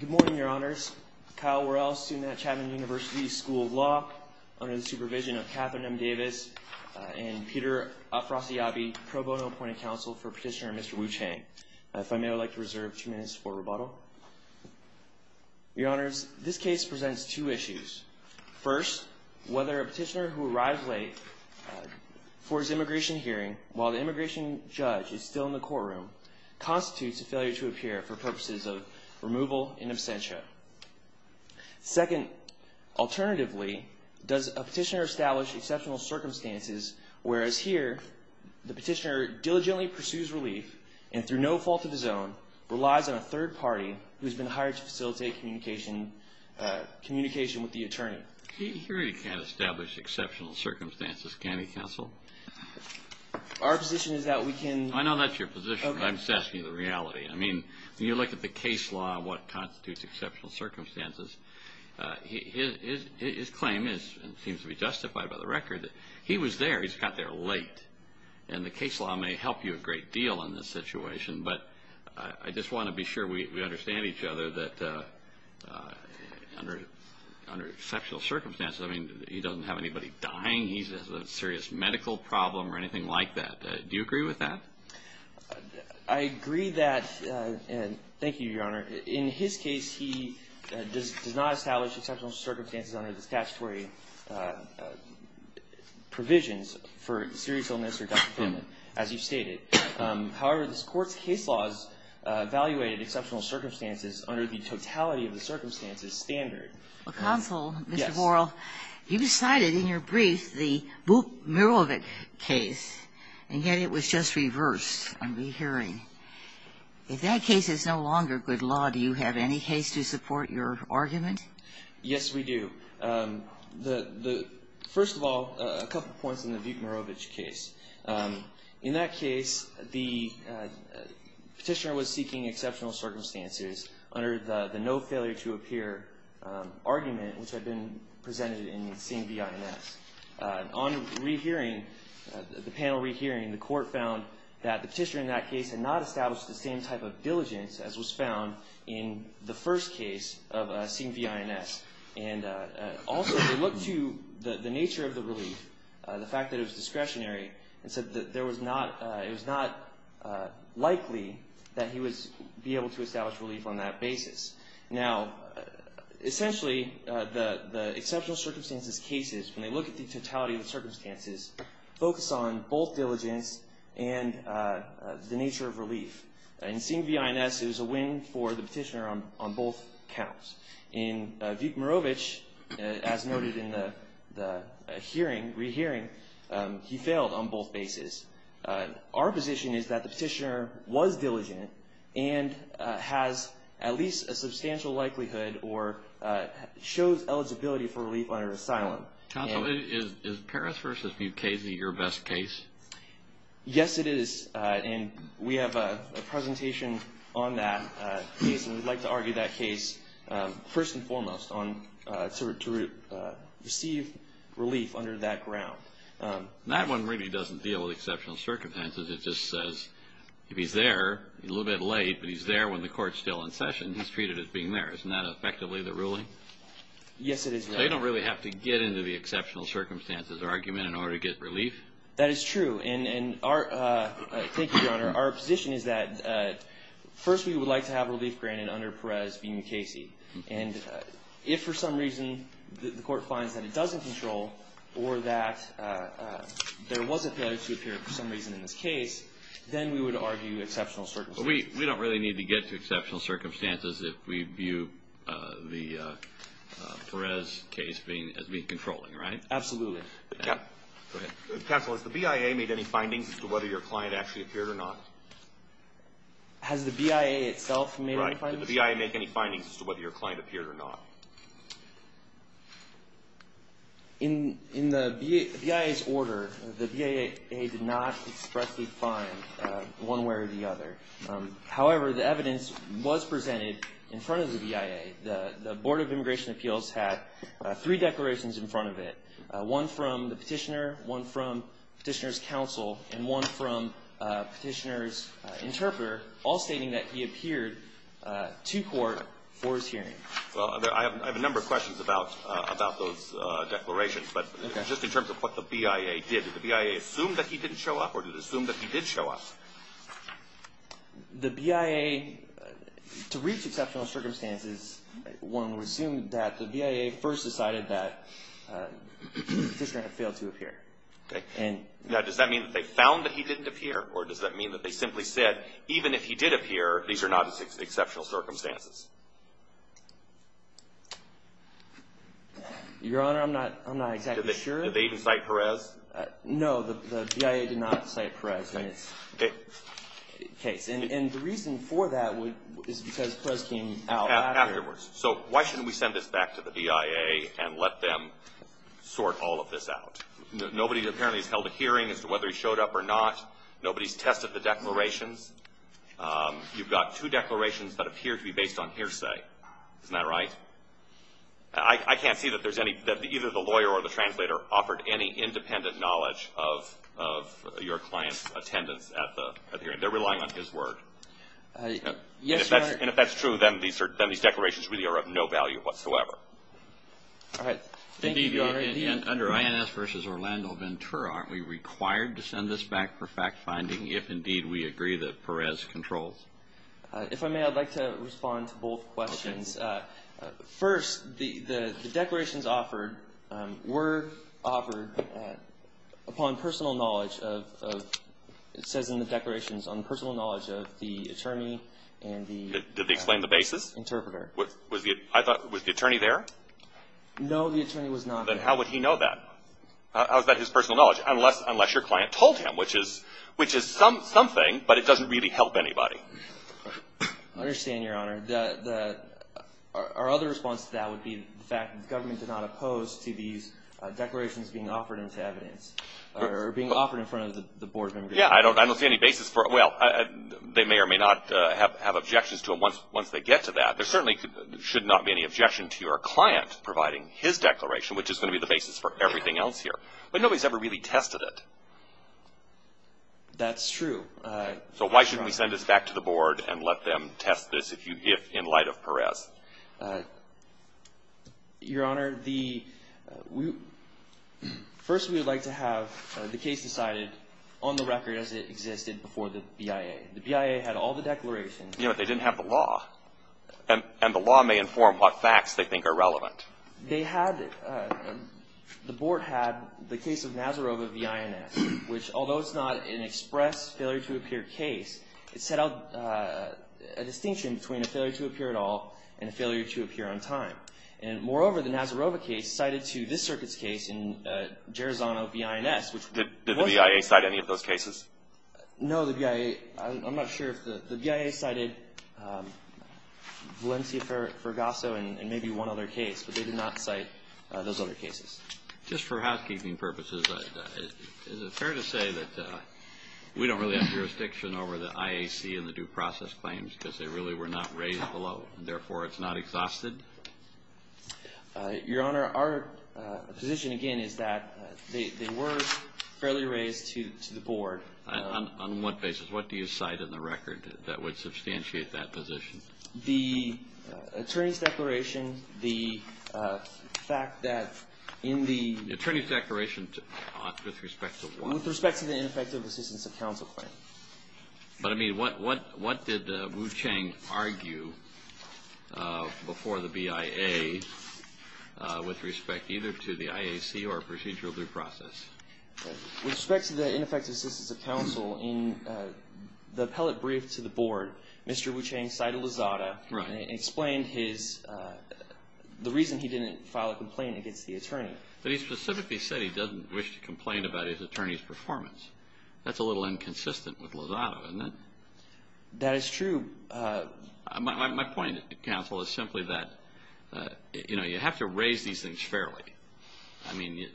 Good morning, Your Honors. Kyle Worrell, student at Chapman University School of Law, under the supervision of Catherine M. Davis and Peter Afrasiabi, pro bono appointed counsel for Petitioner Mr. Wu-Cheng. If I may, I would like to reserve two minutes for rebuttal. Your Honors, this case presents two issues. First, whether a petitioner who arrives late for his immigration hearing while the immigration judge is still in the courtroom constitutes a failure to appear for purposes of removal in absentia. Second, alternatively, does a petitioner establish exceptional circumstances whereas here the petitioner diligently pursues relief and through no fault of his own relies on a third party who has been hired to facilitate communication with the attorney. He really can't establish exceptional circumstances, can he, counsel? Our position is that we can... I know that's your position, but I'm just asking you the reality. I mean, when you look at the case law and what constitutes exceptional circumstances, his claim seems to be justified by the record that he was there, he just got there late. And the case law may help you a great deal in this situation, but I just want to be sure we understand each other that under exceptional circumstances, I mean, he doesn't have anybody dying, he has a serious medical problem or anything like that. Do you agree with that? I agree that, and thank you, Your Honor. In his case, he does not establish exceptional circumstances under the statutory provisions for serious illness or death penalty, as you've stated. However, this Court's case law has evaluated exceptional circumstances under the totality of the circumstances standard. Well, counsel, Mr. Borel, you decided in your brief the Buk-Mirovich case, and yet it was just reversed on re-hearing. If that case is no longer good law, do you have any case to support your argument? Yes, we do. First of all, a couple points on the Buk-Mirovich case. In that case, the petitioner was seeking exceptional circumstances under the no-failure-to-appear argument, which had been presented in CMVI-NS. On re-hearing, the panel re-hearing, the Court found that the petitioner in that case had not established the same type of diligence as was found in the first case of CMVI-NS. And also, they looked to the nature of the relief, the fact that it was discretionary, and said that it was not likely that he would be able to establish relief on that basis. Now, essentially, the exceptional circumstances cases, when they look at the totality of the circumstances, focus on both diligence and the nature of relief. In CMVI-NS, it was a win for the petitioner on both counts. In Buk-Mirovich, as noted in the hearing, re-hearing, he failed on both bases. Our position is that the petitioner was diligent and has at least a substantial likelihood or shows eligibility for relief under asylum. Counsel, is Paris v. Mukasey your best case? Yes, it is. And we have a presentation on that case, and we'd like to argue that case, first and foremost, to receive relief under that ground. That one really doesn't deal with exceptional circumstances. It just says, if he's there, a little bit late, but he's there when the Court's still in session, he's treated as being there. Isn't that effectively the ruling? Yes, it is. They don't really have to get into the exceptional circumstances argument in order to get relief? That is true. Thank you, Your Honor. Our position is that, first, we would like to have relief granted under Paris v. Mukasey. And if, for some reason, the Court finds that it doesn't control or that there was a failure to appear for some reason in this case, then we would argue exceptional circumstances. We don't really need to get to exceptional circumstances if we view the Paris case as being controlling, right? Absolutely. Counsel, has the BIA made any findings as to whether your client actually appeared or not? Has the BIA itself made any findings? Right. Did the BIA make any findings as to whether your client appeared or not? In the BIA's order, the BIA did not expressly find one way or the other. However, the evidence was presented in front of the BIA. The Board of Immigration Appeals had three declarations in front of it. One from the petitioner, one from petitioner's counsel, and one from petitioner's interpreter, all stating that he appeared to court for his hearing. Well, I have a number of questions about those declarations. But just in terms of what the BIA did, did the BIA assume that he didn't show up or did it assume that he did show up? The BIA, to reach exceptional circumstances, one would assume that the BIA first decided that the petitioner had failed to appear. Okay. Now, does that mean that they found that he didn't appear or does that mean that they simply said, even if he did appear, these are not exceptional circumstances? Your Honor, I'm not exactly sure. Did they even cite Perez? No, the BIA did not cite Perez. Okay. And the reason for that is because Perez came out afterwards. Afterwards. So why shouldn't we send this back to the BIA and let them sort all of this out? Nobody apparently has held a hearing as to whether he showed up or not. Nobody's tested the declarations. You've got two declarations that appear to be based on hearsay. Isn't that right? I can't see that either the lawyer or the translator offered any independent knowledge of your client's attendance at the hearing. They're relying on his word. Yes, Your Honor. And if that's true, then these declarations really are of no value whatsoever. All right. Thank you, Your Honor. Indeed, under INS v. Orlando Ventura, aren't we required to send this back for fact-finding if, indeed, we agree that Perez controls? If I may, I'd like to respond to both questions. First, the declarations offered were offered upon personal knowledge of, it says in the declarations, on personal knowledge of the attorney and the interpreter. Did they explain the basis? I thought, was the attorney there? No, the attorney was not there. Then how would he know that? How is that his personal knowledge? Unless your client told him, which is something, but it doesn't really help anybody. I understand, Your Honor. Our other response to that would be the fact that the government did not oppose to these declarations being offered into evidence or being offered in front of the board of members. Yes, I don't see any basis for it. Well, they may or may not have objections to it once they get to that. There certainly should not be any objection to your client providing his declaration, which is going to be the basis for everything else here. But nobody's ever really tested it. That's true. So why shouldn't we send this back to the board and let them test this if in light of Perez? Your Honor, first we would like to have the case decided on the record as it existed before the BIA. The BIA had all the declarations. Yeah, but they didn't have the law. And the law may inform what facts they think are relevant. They had, the board had the case of Nazarova v. INS, which although it's not an express failure to appear case, it set out a distinction between a failure to appear at all and a failure to appear on time. And moreover, the Nazarova case cited to this circuit's case in Gerozano v. INS. Did the BIA cite any of those cases? No, the BIA, I'm not sure if the, the BIA cited Valencia-Fergoso and maybe one other case, but they did not cite those other cases. Just for housekeeping purposes, is it fair to say that we don't really have jurisdiction over the IAC and the due process claims because they really were not raised below, and therefore it's not exhausted? Your Honor, our position again is that they were fairly raised to the board. On what basis? What do you cite in the record that would substantiate that position? The attorney's declaration, the fact that in the Attorney's declaration with respect to what? With respect to the ineffective assistance of counsel claim. But I mean, what did Wu Cheng argue before the BIA with respect either to the IAC or procedural due process? With respect to the ineffective assistance of counsel, in the appellate brief to the board, Mr. Wu Cheng cited Lozada and explained his, the reason he didn't file a complaint against the attorney. But he specifically said he doesn't wish to complain about his attorney's performance. That's a little inconsistent with Lozada, isn't it? That is true. My point, counsel, is simply that, you know, you have to raise these things fairly. I mean,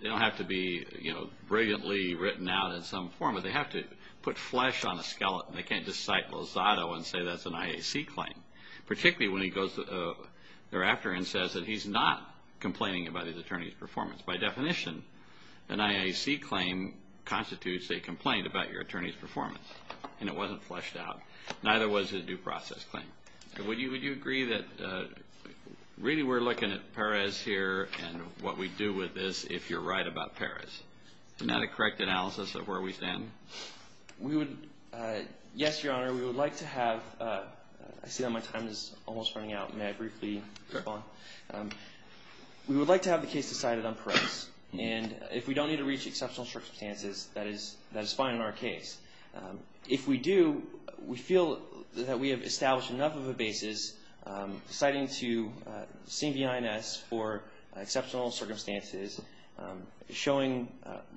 they don't have to be, you know, brilliantly written out in some form, but they have to put flesh on a skeleton. They can't just cite Lozada and say that's an IAC claim, particularly when he goes thereafter and says that he's not complaining about his attorney's performance. By definition, an IAC claim constitutes a complaint about your attorney's performance, and it wasn't fleshed out. Neither was a due process claim. Would you agree that really we're looking at Perez here and what we do with this if you're right about Perez? Isn't that a correct analysis of where we stand? We would, yes, Your Honor. We would like to have, I see that my time is almost running out. May I briefly respond? We would like to have the case decided on Perez. And if we don't need to reach exceptional circumstances, that is fine in our case. If we do, we feel that we have established enough of a basis citing to CBINS for exceptional circumstances, showing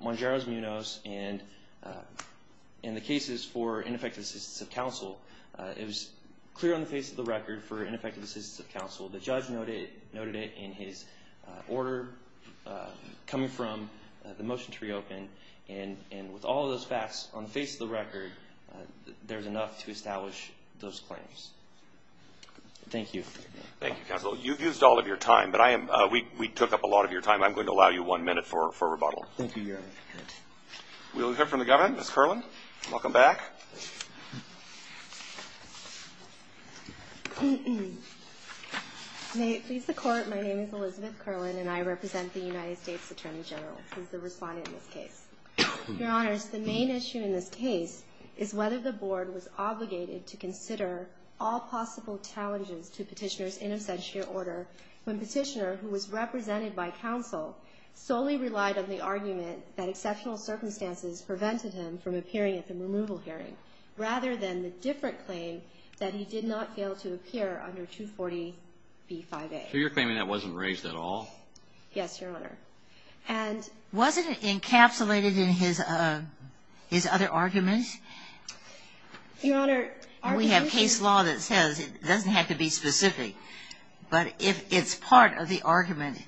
Mongero's, Munoz, and the cases for ineffective assistance of counsel. It was clear on the face of the record for ineffective assistance of counsel. The judge noted it in his order coming from the motion to reopen, and with all of those facts on the face of the record, there's enough to establish those claims. Thank you. Thank you, counsel. You've used all of your time, but we took up a lot of your time. I'm going to allow you one minute for rebuttal. Thank you, Your Honor. We'll hear from the governor, Ms. Kerlin. Welcome back. May it please the Court, my name is Elizabeth Kerlin, and I represent the United States Attorney General who is the respondent in this case. Your Honors, the main issue in this case is whether the Board was obligated to consider all possible challenges to Petitioner's in absentia order when Petitioner, who was represented by counsel, solely relied on the argument that exceptional circumstances prevented him from appearing at the removal hearing, rather than the different claim that he did not fail to appear under 240b-5a. So you're claiming that wasn't raised at all? Yes, Your Honor. And wasn't it encapsulated in his other argument? Your Honor, our position We have case law that says it doesn't have to be specific, but if it's part of the argument,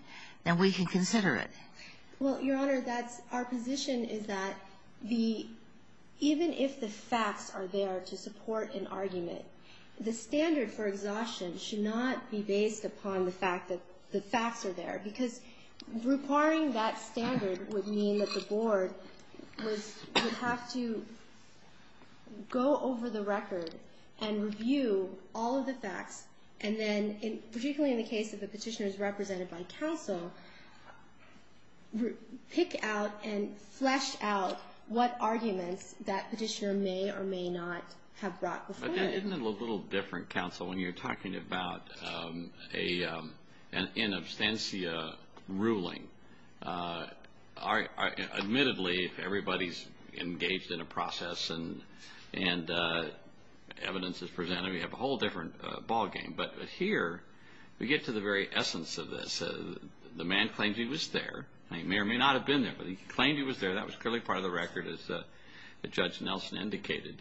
then we can consider it. Well, Your Honor, our position is that even if the facts are there to support an argument, the standard for exhaustion should not be based upon the fact that the facts are there, because requiring that standard would mean that the Board would have to go over the record and review all of the facts, and then, particularly in the case of the Petitioner's represented by counsel, pick out and flesh out what arguments that Petitioner may or may not have brought before him. Isn't it a little different, counsel, when you're talking about an in absentia ruling? Admittedly, if everybody's engaged in a process and evidence is presented, we have a whole different ballgame. But here, we get to the very essence of this. The man claims he was there. He may or may not have been there, but he claimed he was there. That was clearly part of the record, as Judge Nelson indicated.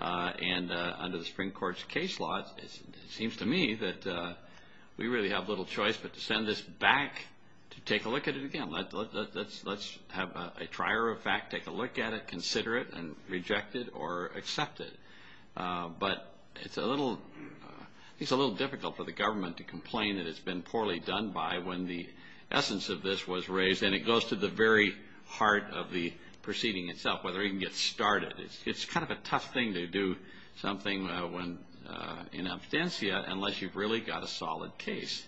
And under the Supreme Court's case law, it seems to me that we really have little choice but to send this back to take a look at it again. Let's have a trier of fact, take a look at it, consider it, and reject it or accept it. But it's a little difficult for the government to complain that it's been poorly done by when the essence of this was raised, and it goes to the very heart of the proceeding itself, whether it can get started. It's kind of a tough thing to do something in absentia unless you've really got a solid case.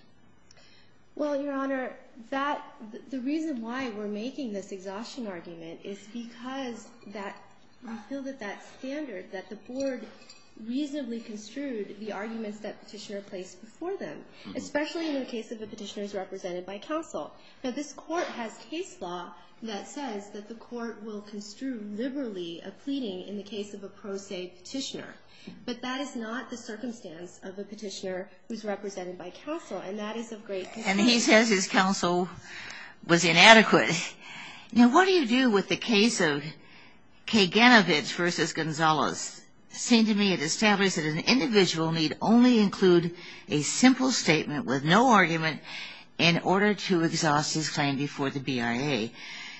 Well, Your Honor, the reason why we're making this exhaustion argument is because we feel that that standard, that the Board reasonably construed the arguments that Petitioner placed before them, especially in the case of the petitioners represented by counsel. Now, this Court has case law that says that the Court will construe liberally a pleading in the case of a pro se petitioner. But that is not the circumstance of a petitioner who's represented by counsel, and that is of great concern. And he says his counsel was inadequate. Now, what do you do with the case of Kaganovich v. Gonzalez? It seemed to me it established that an individual need only include a simple statement with no argument in order to exhaust his claim before the BIA.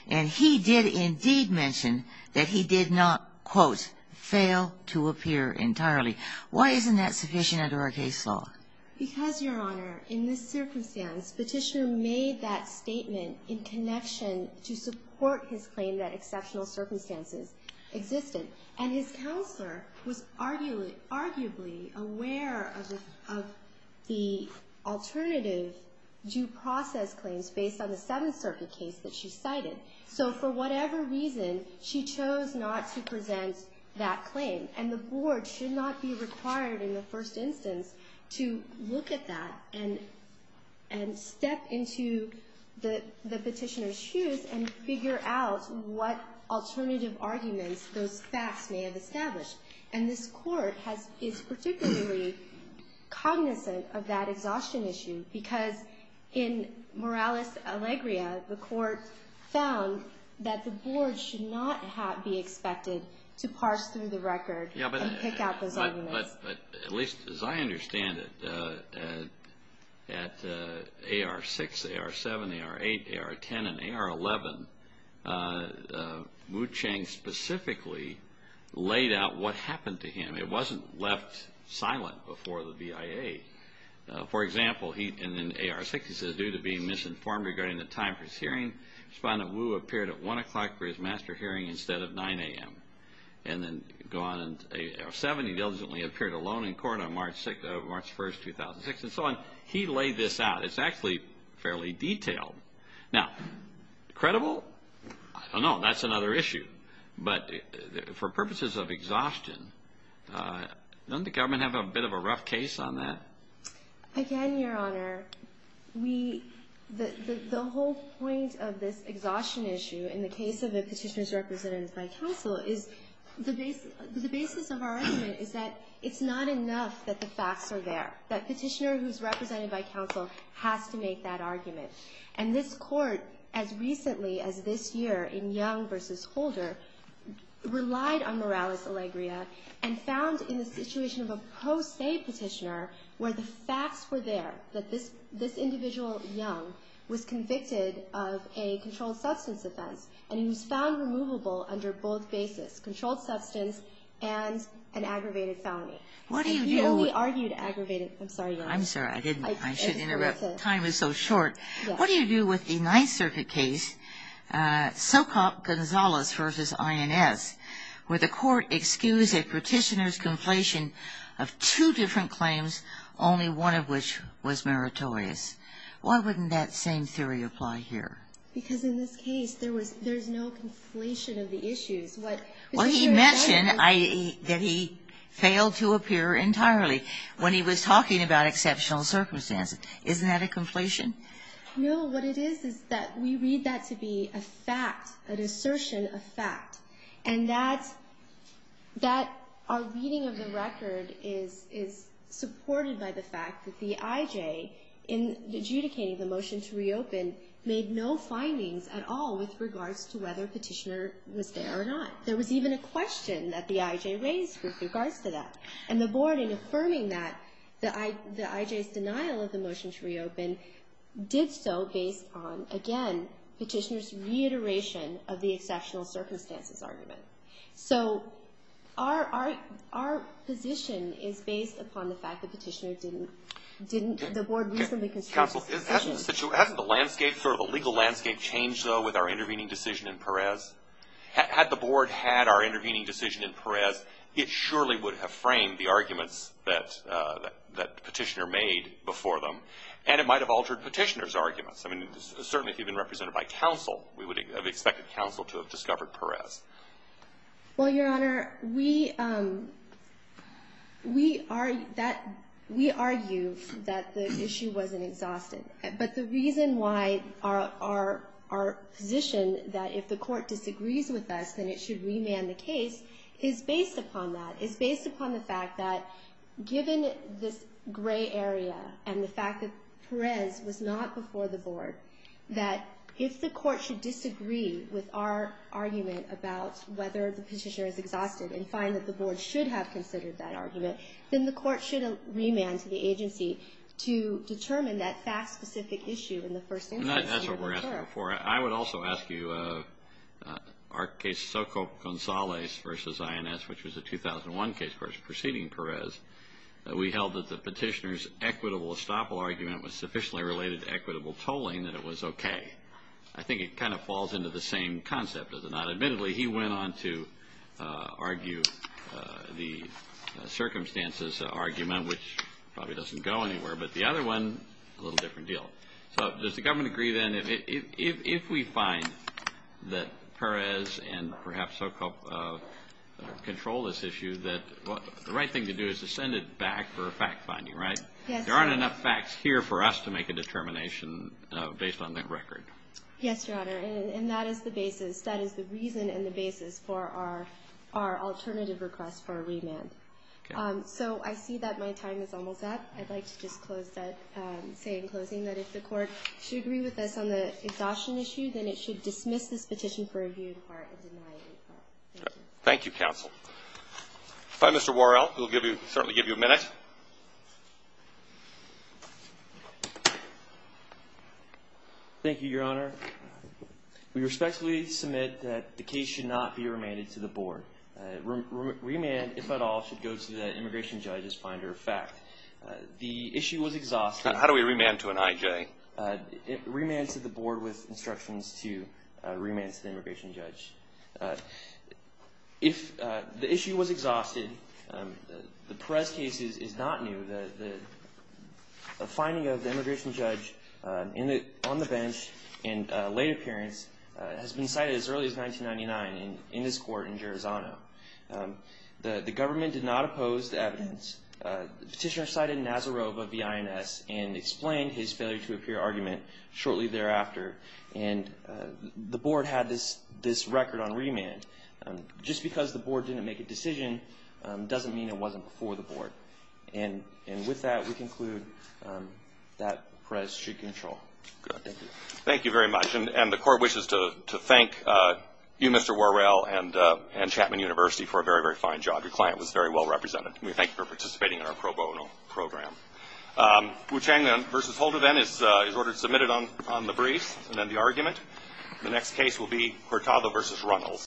And he did indeed mention that he did not, quote, fail to appear entirely. Why isn't that sufficient under our case law? Because, Your Honor, in this circumstance, Petitioner made that statement in connection to support his claim that exceptional circumstances existed. And his counselor was arguably aware of the alternative due process claims based on the Seventh Circuit case that she cited. So for whatever reason, she chose not to present that claim. And the Board should not be required in the first instance to look at that and step into the petitioner's shoes and figure out what alternative arguments those facts may have established. And this Court is particularly cognizant of that exhaustion issue because in Morales-Alegria, the Court found that the Board should not be expected to parse through the record and pick out those arguments. But at least as I understand it, at AR-6, AR-7, AR-8, AR-10, and AR-11, Wu Cheng specifically laid out what happened to him. It wasn't left silent before the BIA. For example, in AR-6, he says, due to being misinformed regarding the time for his hearing, he found that Wu appeared at 1 o'clock for his master hearing instead of 9 a.m. And then go on in AR-7, he diligently appeared alone in court on March 1, 2006, and so on. He laid this out. It's actually fairly detailed. Now, credible? I don't know. That's another issue. But for purposes of exhaustion, doesn't the government have a bit of a rough case on that? Again, Your Honor, the whole point of this exhaustion issue, in the case of a petitioner who's represented by counsel, is the basis of our argument is that it's not enough that the facts are there. That petitioner who's represented by counsel has to make that argument. And this Court, as recently as this year in Young v. Holder, relied on Morales-Alegría and found in the situation of a pro se petitioner where the facts were there, that this individual, Young, was convicted of a controlled substance offense. And he was found removable under both basis, controlled substance and an aggravated felony. He only argued aggravated. I'm sorry, Your Honor. I'm sorry. I should interrupt. Time is so short. What do you do with the Ninth Circuit case, Socop-Gonzalez v. INS, where the Court excused a petitioner's conflation of two different claims, only one of which was meritorious? Why wouldn't that same theory apply here? Because in this case, there was no conflation of the issues. What he mentioned, that he failed to appear entirely when he was talking about exceptional circumstances. Isn't that a conflation? No. What it is is that we read that to be a fact, an assertion of fact. And that our reading of the record is supported by the fact that the IJ, in adjudicating the motion to reopen, made no findings at all with regards to whether a petitioner was there or not. There was even a question that the IJ raised with regards to that. And the Board, in affirming that, the IJ's denial of the motion to reopen did so based on, again, the exceptional circumstances argument. So our position is based upon the fact that the petitioner didn't. The Board reasonably conceded. Counsel, hasn't the legal landscape changed, though, with our intervening decision in Perez? Had the Board had our intervening decision in Perez, it surely would have framed the arguments that the petitioner made before them. And it might have altered petitioner's arguments. I mean, certainly if you've been represented by counsel, we would have expected counsel to have discovered Perez. Well, Your Honor, we argue that the issue wasn't exhausted. But the reason why our position that if the Court disagrees with us, then it should remand the case, is based upon that. It's based upon the fact that given this gray area and the fact that Perez was not before the Board, that if the Court should disagree with our argument about whether the petitioner is exhausted and find that the Board should have considered that argument, then the Court should remand to the agency to determine that fact-specific issue in the first instance. And that's what we're asking for. I would also ask you, our case, Soco-Gonzalez v. INS, which was a 2001 case proceeding Perez, we held that the petitioner's equitable estoppel argument was sufficiently related to equitable tolling that it was okay. I think it kind of falls into the same concept, does it not? Admittedly, he went on to argue the circumstances argument, which probably doesn't go anywhere. But the other one, a little different deal. So does the government agree, then, if we find that Perez and perhaps Soco control this issue, that the right thing to do is to send it back for a fact-finding, right? Yes. There aren't enough facts here for us to make a determination based on that record. Yes, Your Honor. And that is the basis. That is the reason and the basis for our alternative request for a remand. Okay. So I see that my time is almost up. I'd like to just close that, say in closing that if the Court should agree with us on the exhaustion issue, then it should dismiss this petition for review in part and deny it in part. Thank you. Thank you, counsel. If I may, Mr. Worrell, we'll certainly give you a minute. Thank you, Your Honor. We respectfully submit that the case should not be remanded to the board. Remand, if at all, should go to the immigration judge's finder of fact. The issue was exhausted. How do we remand to an IJ? Remand to the board with instructions to remand to the immigration judge. If the issue was exhausted, the Perez case is not new. The finding of the immigration judge on the bench in late appearance has been cited as early as 1999 in this court in Gerizano. The government did not oppose the evidence. The petitioner cited Nazarov of the INS and explained his failure to appear argument shortly thereafter. And the board had this record on remand. Just because the board didn't make a decision doesn't mean it wasn't before the board. And with that, we conclude that Perez should control. Good. Thank you. Thank you very much. And the court wishes to thank you, Mr. Worrell, and Chapman University for a very, very fine job. Your client was very well represented. We thank you for participating in our pro bono program. Wu Chang versus Holder, then, is ordered submitted on the briefs and then the argument. The next case will be Hurtado versus Runnels.